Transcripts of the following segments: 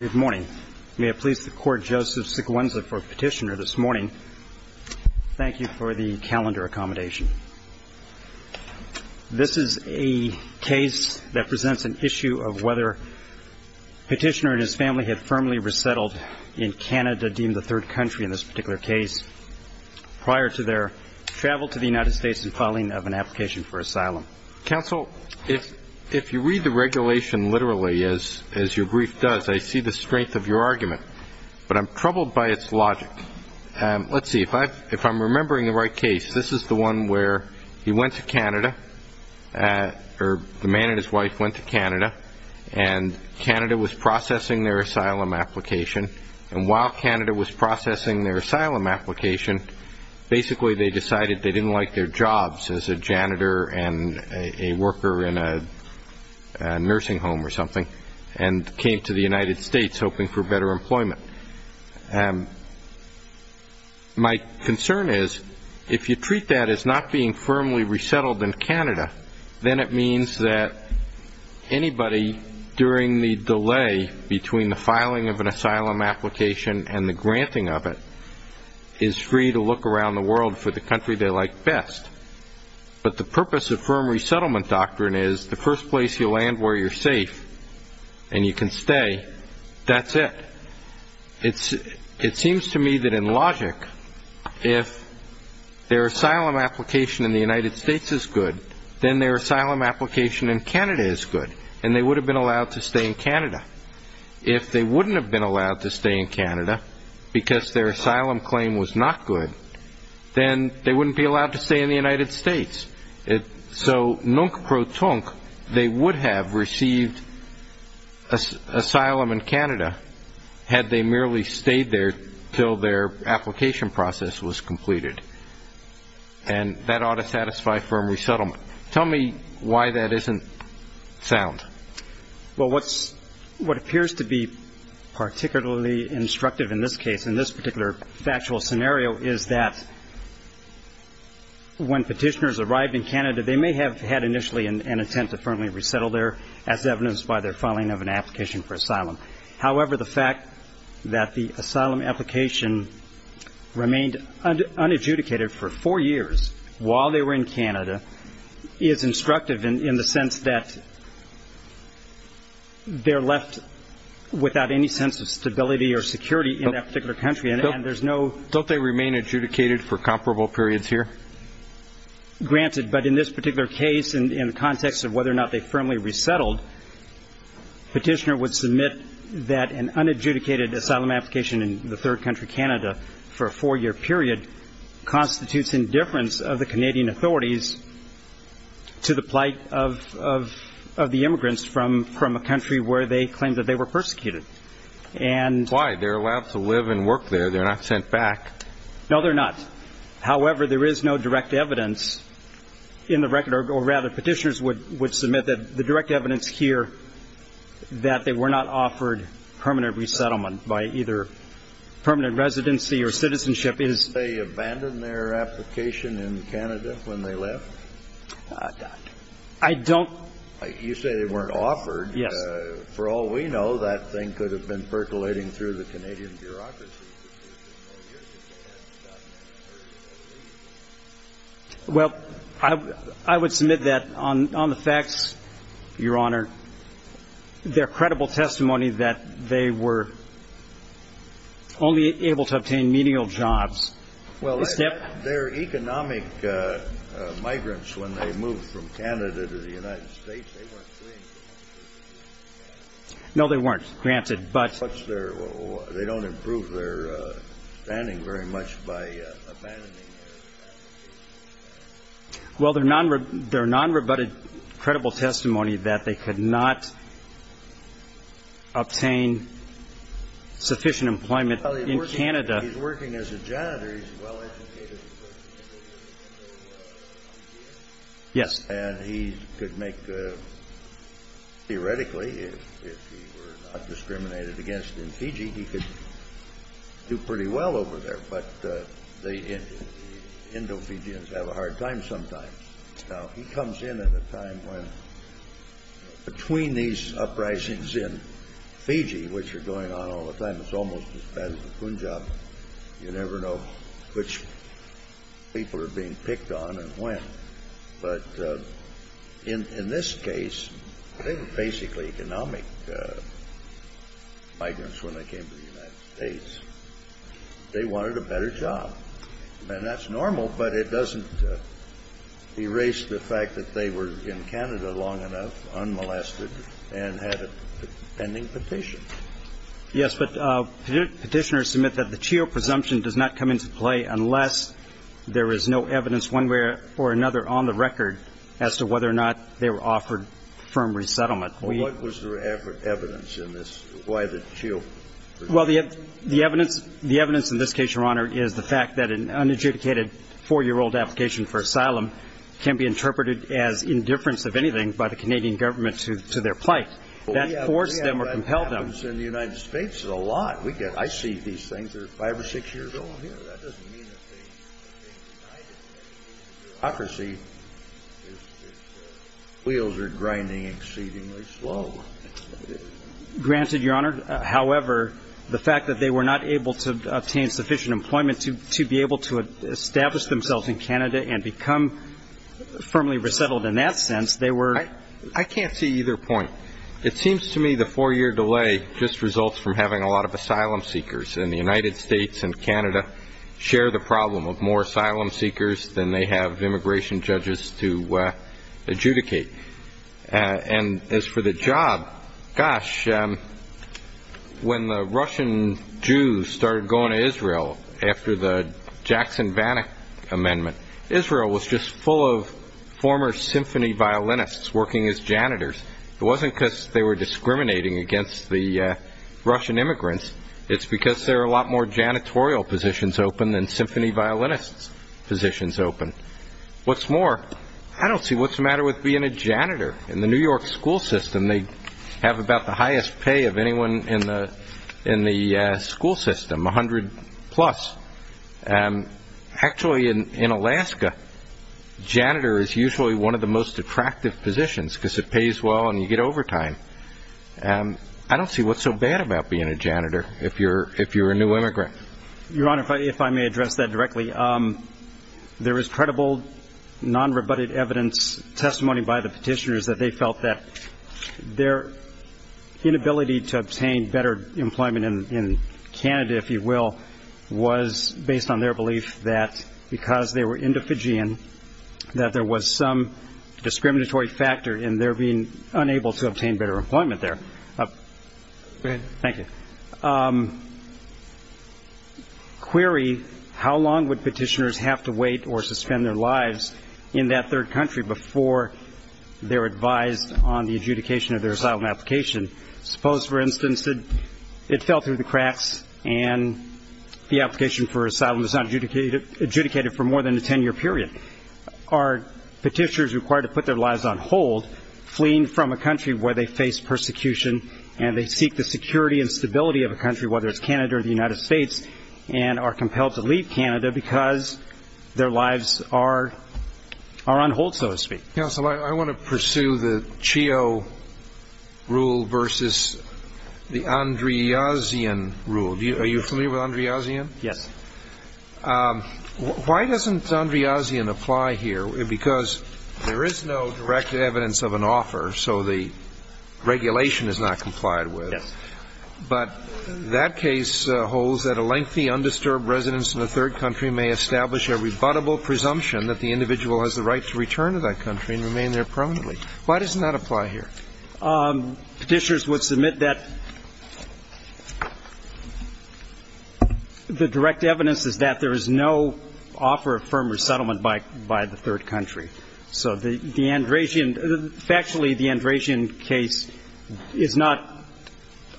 Good morning. May it please the Court, Joseph Seguenza for Petitioner this morning. Thank you for the calendar accommodation. This is a case that presents an issue of whether Petitioner and his family had firmly resettled in Canada, deemed the third country in this particular case, prior to their travel to the United States and filing of an application for asylum. Counsel, if you read the regulation literally, as your brief does, I see the strength of your argument, but I'm troubled by its logic. Let's see, if I'm remembering the right case, this is the one where he went to Canada, or the man and his wife went to Canada, and Canada was processing their asylum application, and while Canada was processing their asylum application, basically they decided they didn't like their jobs as a janitor and a worker in a nursing home or something, and came to the United States hoping for better employment. My concern is, if you treat that as not being firmly resettled in Canada, then it means that anybody, during the delay between the filing of an asylum application and the granting of it, is free to look around the world for the country they like best. But the purpose of firm resettlement doctrine is, the first place you land where you're safe and you can stay, that's it. It seems to me that in logic, if their asylum application in the United States is good, then their asylum application in Canada is good, and they would have been allowed to stay in Canada. If they wouldn't have been allowed to stay in Canada, because their asylum claim was not good, then they wouldn't be allowed to stay in the United States. So, nunc pro tunc, they would have received asylum in Canada, had they merely stayed there until their application process was completed, and that ought to satisfy firm resettlement. Tell me why that isn't sound. Well, what appears to be particularly instructive in this case, in this particular factual scenario, is that when petitioners arrived in Canada, they may have had initially an intent to firmly resettle there, as evidenced by their filing of an application for asylum. However, the fact that the asylum application remained unadjudicated for four years while they were in Canada is instructive in the sense that they're left without any sense of stability or security in that particular country, and there's no... Don't they remain adjudicated for comparable periods here? Granted, but in this particular case, in the context of whether or not they firmly resettled, petitioner would submit that an unadjudicated asylum application in the third country, Canada, for a four-year period constitutes indifference of the Canadian authorities to the plight of the immigrants from a country where they claimed that they were persecuted. Why? They're allowed to live and work there. They're not sent back. No, they're not. However, there is no direct evidence in the record, or rather petitioners would submit that the direct evidence here that they were not offered permanent resettlement by either permanent residency or citizenship is... Did they abandon their application in Canada when they left? I don't... You say they weren't offered. Yes. For all we know, that thing could have been percolating through the Canadian bureaucracy. Well, I would submit that on the facts, Your Honor, their credible testimony that they were only able to obtain menial jobs... Well, their economic migrants, when they moved from Canada to the United States, they weren't free. No, they weren't, granted, but... They don't improve their standing very much by abandoning their application. Well, their non-rebutted credible testimony that they could not obtain sufficient employment in Canada... He's working as a janitor. He's a well-educated person. Yes. And he could make, theoretically, if he were not discriminated against in Fiji, he could do pretty well over there, but the Indo-Fijians have a hard time sometimes. Now, he comes in at a time when, between these uprisings in Fiji, which are going on all the time, it's almost as bad as the Punjab. You never know which people are being picked on and when. But in this case, they were basically economic migrants when they came to the United States. They wanted a better job. And that's normal, but it doesn't erase the fact that they were in Canada long enough, unmolested, and had a pending petition. Yes, but petitioners submit that the Chio presumption does not come into play unless there is no evidence one way or another on the record as to whether or not they were offered firm resettlement. Well, what was the evidence in this? Why the Chio presumption? Well, the evidence in this case, Your Honor, is the fact that an unadjudicated four-year-old application for asylum can be interpreted as indifference of anything by the Canadian government to their plight. That forced them or compelled them. It happens in the United States a lot. I see these things. They're five or six years old. That doesn't mean that they denied it. In a democracy, the wheels are grinding exceedingly slow. Granted, Your Honor, however, the fact that they were not able to obtain sufficient employment to be able to establish themselves in Canada and become firmly resettled in that sense, they were ---- I can't see either point. It seems to me the four-year delay just results from having a lot of asylum seekers. And the United States and Canada share the problem of more asylum seekers than they have immigration judges to adjudicate. And as for the job, gosh, when the Russian Jews started going to Israel after the Jackson-Vanik Amendment, Israel was just full of former symphony violinists working as janitors. It wasn't because they were discriminating against the Russian immigrants. It's because there are a lot more janitorial positions open than symphony violinists' positions open. What's more, I don't see what's the matter with being a janitor. In the New York school system, they have about the highest pay of anyone in the school system, 100-plus. Actually, in Alaska, janitor is usually one of the most attractive positions because it pays well and you get overtime. I don't see what's so bad about being a janitor if you're a new immigrant. Your Honor, if I may address that directly, there is credible nonrebutted evidence, testimony by the petitioners, that they felt that their inability to obtain better employment in Canada, if you will, was based on their belief that because they were Indophagian, that there was some discriminatory factor in their being unable to obtain better employment there. Go ahead. Thank you. Query, how long would petitioners have to wait or suspend their lives in that third country before they're advised on the adjudication of their asylum application? Suppose, for instance, that it fell through the cracks and the application for asylum is not adjudicated for more than a ten-year period. Are petitioners required to put their lives on hold, fleeing from a country where they face persecution and they seek the security and stability of a country, whether it's Canada or the United States, and are compelled to leave Canada because their lives are on hold, so to speak? Counsel, I want to pursue the CHEO rule versus the Andreazian rule. Are you familiar with Andreazian? Yes. Why doesn't Andreazian apply here? Because there is no direct evidence of an offer, so the regulation is not complied with. Yes. But that case holds that a lengthy, undisturbed residence in a third country may establish a rebuttable presumption that the individual has the right to return to that country and remain there permanently. Why doesn't that apply here? Petitioners would submit that the direct evidence is that there is no offer of firm resettlement by the third country. So the Andreazian, factually, the Andreazian case is not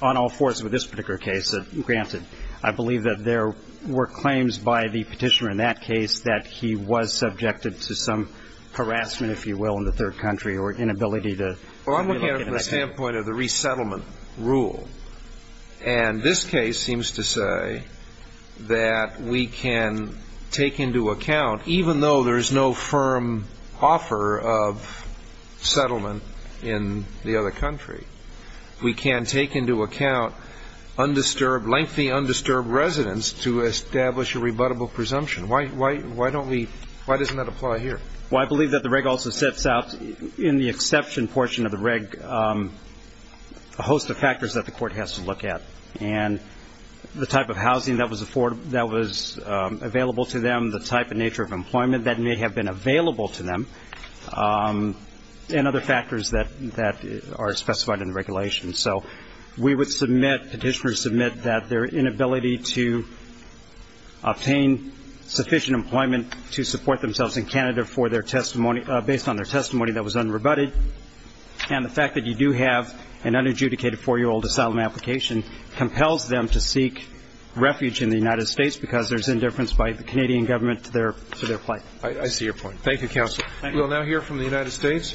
on all fours with this particular case, granted. I believe that there were claims by the petitioner in that case that he was subjected to some harassment, if you will, in the third country or inability to remain in a country. Well, I'm looking at it from the standpoint of the resettlement rule. And this case seems to say that we can take into account, even though there is no firm offer of settlement in the other country, we can take into account undisturbed, lengthy undisturbed residence to establish a rebuttable presumption. Why don't we why doesn't that apply here? Well, I believe that the reg also sets out in the exception portion of the reg a host of factors that the court has to look at. And the type of housing that was affordable, that was available to them, the type and nature of employment that may have been available to them, and other factors that are specified in the regulation. So we would submit, petitioners submit, that their inability to obtain sufficient employment to support themselves in Canada for their testimony, based on their testimony that was unrebutted, and the fact that you do have an unadjudicated four-year-old asylum application compels them to seek refuge in the United States because there's indifference by the Canadian government to their claim. I see your point. Thank you, counsel. We'll now hear from the United States.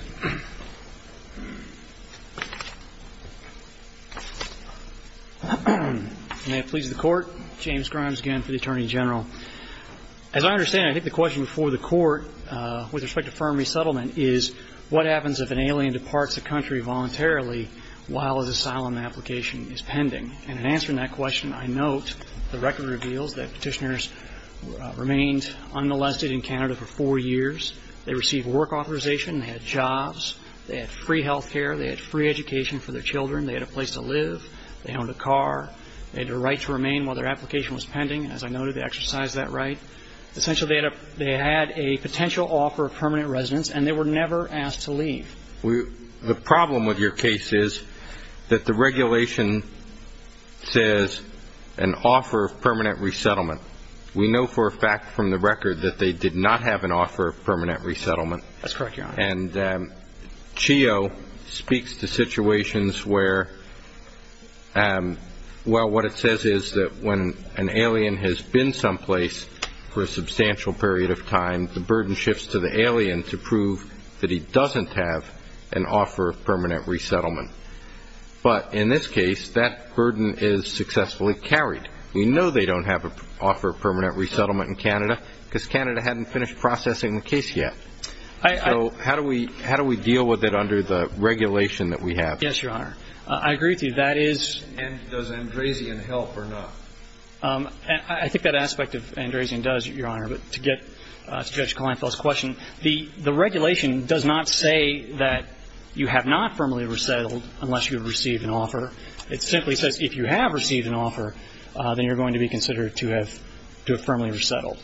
May it please the court. James Grimes again for the Attorney General. As I understand it, I think the question before the court with respect to firm resettlement is, what happens if an alien departs the country voluntarily while his asylum application is pending? And in answering that question, I note the record reveals that petitioners remained unolested in Canada for four years. They received work authorization. They had jobs. They had free health care. They had free education for their children. They had a place to live. They owned a car. They had a right to remain while their application was pending. As I noted, they exercised that right. Essentially, they had a potential offer of permanent residence, and they were never asked to leave. The problem with your case is that the regulation says an offer of permanent resettlement. We know for a fact from the record that they did not have an offer of permanent resettlement. That's correct, Your Honor. And CHEO speaks to situations where, well, what it says is that when an alien has been someplace for a substantial period of time, the burden shifts to the alien to prove that he doesn't have an offer of permanent resettlement. But in this case, that burden is successfully carried. We know they don't have an offer of permanent resettlement in Canada because Canada hadn't finished processing the case yet. So how do we deal with it under the regulation that we have? Yes, Your Honor. I agree with you. That is. And does Andrazian help or not? I think that aspect of Andrazian does, Your Honor. But to get to Judge Klinefeld's question, the regulation does not say that you have not firmly resettled unless you have received an offer. It simply says if you have received an offer, then you're going to be considered to have firmly resettled.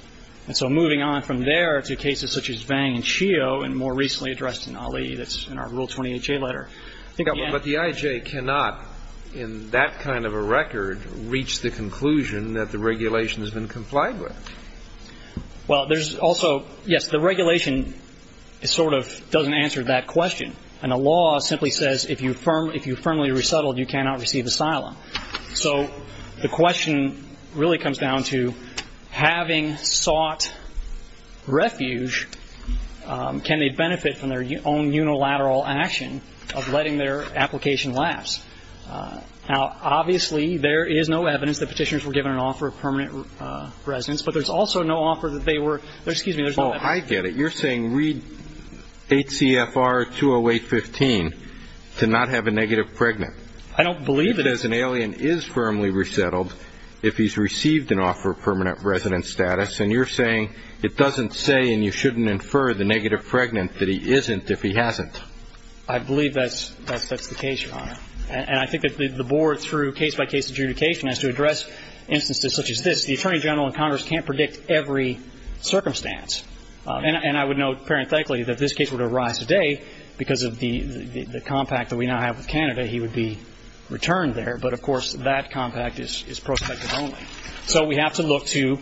And so moving on from there to cases such as Vang and CHEO and more recently addressed in Ali, that's in our Rule 28J letter. But the IJ cannot, in that kind of a record, reach the conclusion that the regulation has been complied with. Well, there's also, yes, the regulation sort of doesn't answer that question. And the law simply says if you firmly resettled, you cannot receive asylum. So the question really comes down to having sought refuge, can they benefit from their own unilateral action of letting their application last? Now, obviously, there is no evidence that Petitioners were given an offer of permanent residence. But there's also no offer that they were ‑‑ excuse me, there's no evidence. Oh, I get it. You're saying read 8 CFR 208.15 to not have a negative pregnant. I don't believe that. Because an alien is firmly resettled if he's received an offer of permanent residence status. And you're saying it doesn't say and you shouldn't infer the negative pregnant that he isn't if he hasn't. I believe that's the case, Your Honor. And I think that the board through case by case adjudication has to address instances such as this. The Attorney General and Congress can't predict every circumstance. And I would note parenthetically that if this case were to arise today because of the compact that we now have with Canada, he would be returned there. But, of course, that compact is prospective only. So we have to look to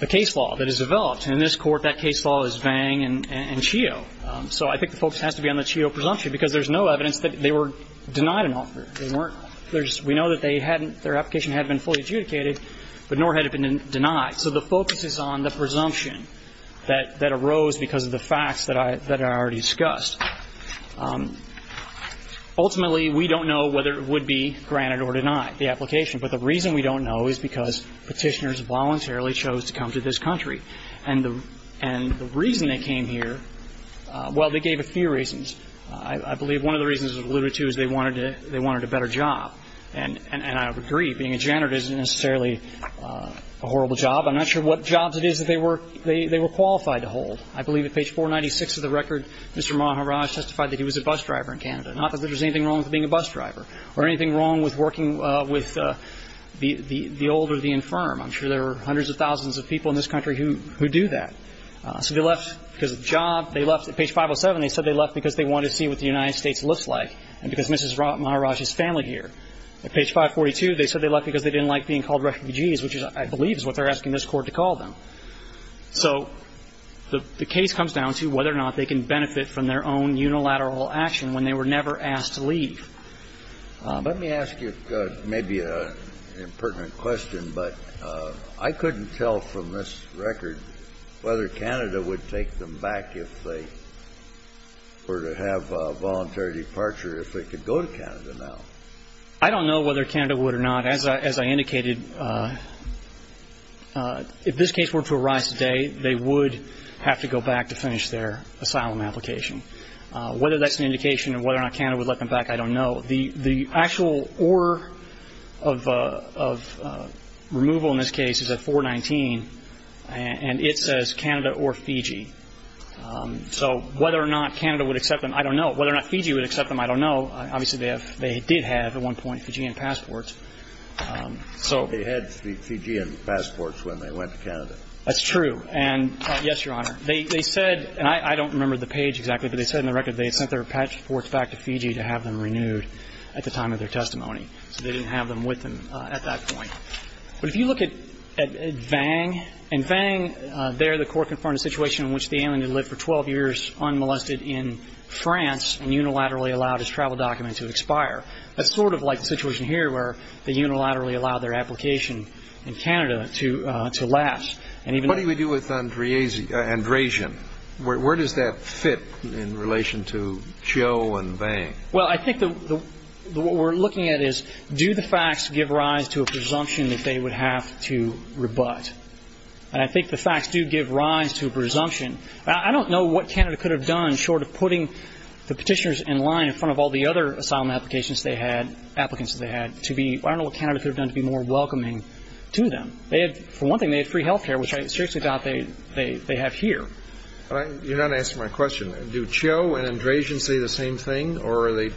the case law that is developed. And in this court, that case law is Vang and Chio. So I think the focus has to be on the Chio presumption because there's no evidence that they were denied an offer. They weren't. We know that they hadn't ‑‑ their application hadn't been fully adjudicated, but nor had it been denied. So the focus is on the presumption that arose because of the facts that I already discussed. Ultimately, we don't know whether it would be granted or denied, the application. But the reason we don't know is because Petitioners voluntarily chose to come to this country. And the reason they came here, well, they gave a few reasons. I believe one of the reasons was alluded to is they wanted a better job. And I agree, being a janitor isn't necessarily a horrible job. I'm not sure what jobs it is that they were qualified to hold. I believe at page 496 of the record, Mr. Maharaj testified that he was a bus driver in Canada, not that there was anything wrong with being a bus driver or anything wrong with working with the old or the infirm. I'm sure there were hundreds of thousands of people in this country who do that. So they left because of the job. They left ‑‑ at page 507, they said they left because they wanted to see what the United States looks like and because Mrs. Maharaj's family here. At page 542, they said they left because they didn't like being called refugees, which I believe is what they're asking this Court to call them. So the case comes down to whether or not they can benefit from their own unilateral action when they were never asked to leave. Let me ask you maybe an impertinent question, but I couldn't tell from this record whether Canada would take them back if they were to have a voluntary departure if they could go to Canada now. I don't know whether Canada would or not. As I indicated, if this case were to arise today, they would have to go back to finish their asylum application. Whether that's an indication of whether or not Canada would let them back, I don't know. The actual order of removal in this case is at 419, and it says Canada or Fiji. So whether or not Canada would accept them, I don't know. Whether or not Fiji would accept them, I don't know. Obviously, they did have at one point Fijian passports. So they had Fijian passports when they went to Canada. That's true. And, yes, Your Honor, they said, and I don't remember the page exactly, but they said in the record they had sent their passports back to Fiji to have them renewed at the time of their testimony. So they didn't have them with them at that point. But if you look at Vang, in Vang there the Court confirmed a situation in which the alien had lived for 12 years unmolested in France and unilaterally allowed his travel document to expire. That's sort of like the situation here where they unilaterally allowed their application in Canada to last. What do we do with Andresian? Where does that fit in relation to Cho and Vang? Well, I think what we're looking at is, do the facts give rise to a presumption that they would have to rebut? And I think the facts do give rise to a presumption. I don't know what Canada could have done short of putting the petitioners in line in front of all the other asylum applications they had, applicants that they had, to be, I don't know what Canada could have done to be more welcoming to them. They had, for one thing, they had free health care, which I seriously doubt they have here. You're not answering my question. Do Cho and Andresian say the same thing, or are they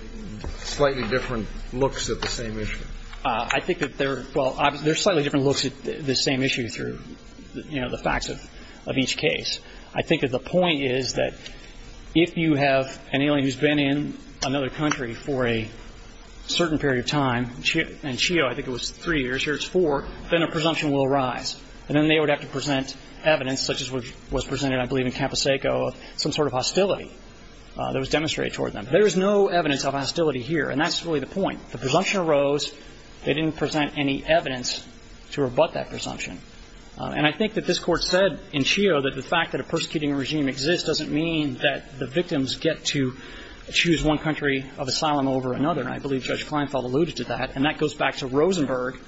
slightly different looks at the same issue? I think that they're, well, they're slightly different looks at the same issue through, you know, the facts of each case. I think that the point is that if you have an alien who's been in another country for a certain period of time, and Cho, I think it was three years, here it's four, then a presumption will arise. And then they would have to present evidence, such as what was presented, I believe, in Campo Seco, of some sort of hostility that was demonstrated toward them. There is no evidence of hostility here, and that's really the point. The presumption arose. They didn't present any evidence to rebut that presumption. And I think that this Court said in Cho that the fact that a persecuting regime exists doesn't mean that the victims get to choose one country of asylum over another. And I believe Judge Kleinfeld alluded to that, and that goes back to Rosenberg,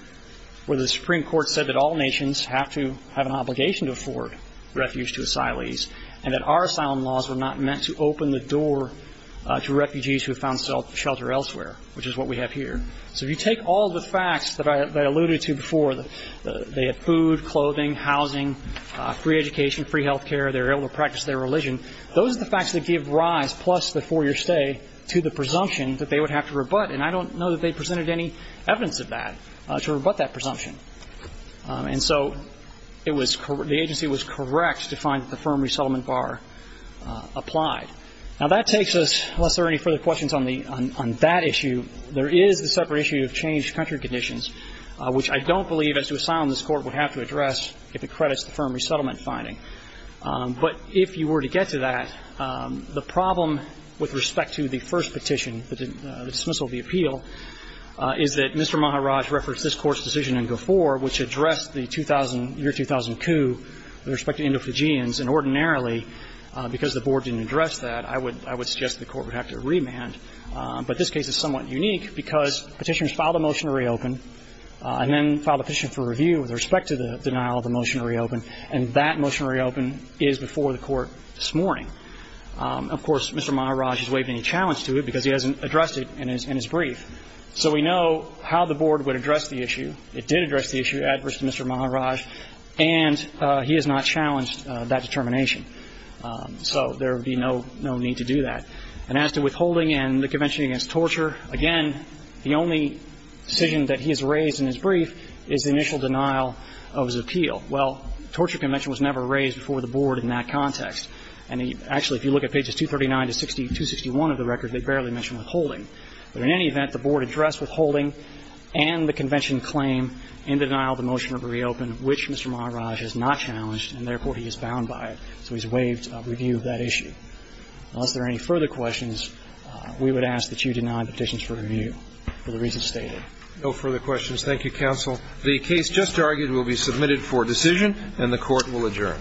where the Supreme Court said that all nations have to have an obligation to afford refuge to asylees, and that our asylum laws were not meant to open the door to refugees who found shelter elsewhere, which is what we have here. So if you take all the facts that I alluded to before, they had food, clothing, housing, free education, free health care, they were able to practice their religion, those are the facts that give rise, plus the four-year stay, to the presumption that they would have to rebut. And I don't know that they presented any evidence of that, to rebut that presumption. And so the agency was correct to find that the firm resettlement bar applied. Now, that takes us, unless there are any further questions on that issue, there is the separate issue of changed country conditions, which I don't believe as to asylum this Court would have to address if it credits the firm resettlement finding. But if you were to get to that, the problem with respect to the first petition, the dismissal of the appeal, is that Mr. Maharaj referenced this Court's decision in Gofor, which addressed the year 2000 coup with respect to Indo-Fujians, and ordinarily, because the Board didn't address that, I would suggest the Court would have to remand. But this case is somewhat unique because Petitioners filed a motion to reopen and then filed a petition for review with respect to the denial of the motion to reopen, and that motion to reopen is before the Court this morning. Of course, Mr. Maharaj has waived any challenge to it because he hasn't addressed it in his brief. So we know how the Board would address the issue. It did address the issue adverse to Mr. Maharaj, and he has not challenged that determination. So there would be no need to do that. And as to withholding and the Convention against Torture, again, the only decision that he has raised in his brief is the initial denial of his appeal. Well, Torture Convention was never raised before the Board in that context. And actually, if you look at pages 239 to 261 of the record, they barely mention withholding. But in any event, the Board addressed withholding and the Convention claim in denial of the motion to reopen, which Mr. Maharaj has not challenged, and therefore he is bound by it. So he's waived review of that issue. Unless there are any further questions, we would ask that you deny petitions for review for the reasons stated. No further questions. Thank you, counsel. The case just argued will be submitted for decision, and the Court will adjourn. Thank you. Thank you.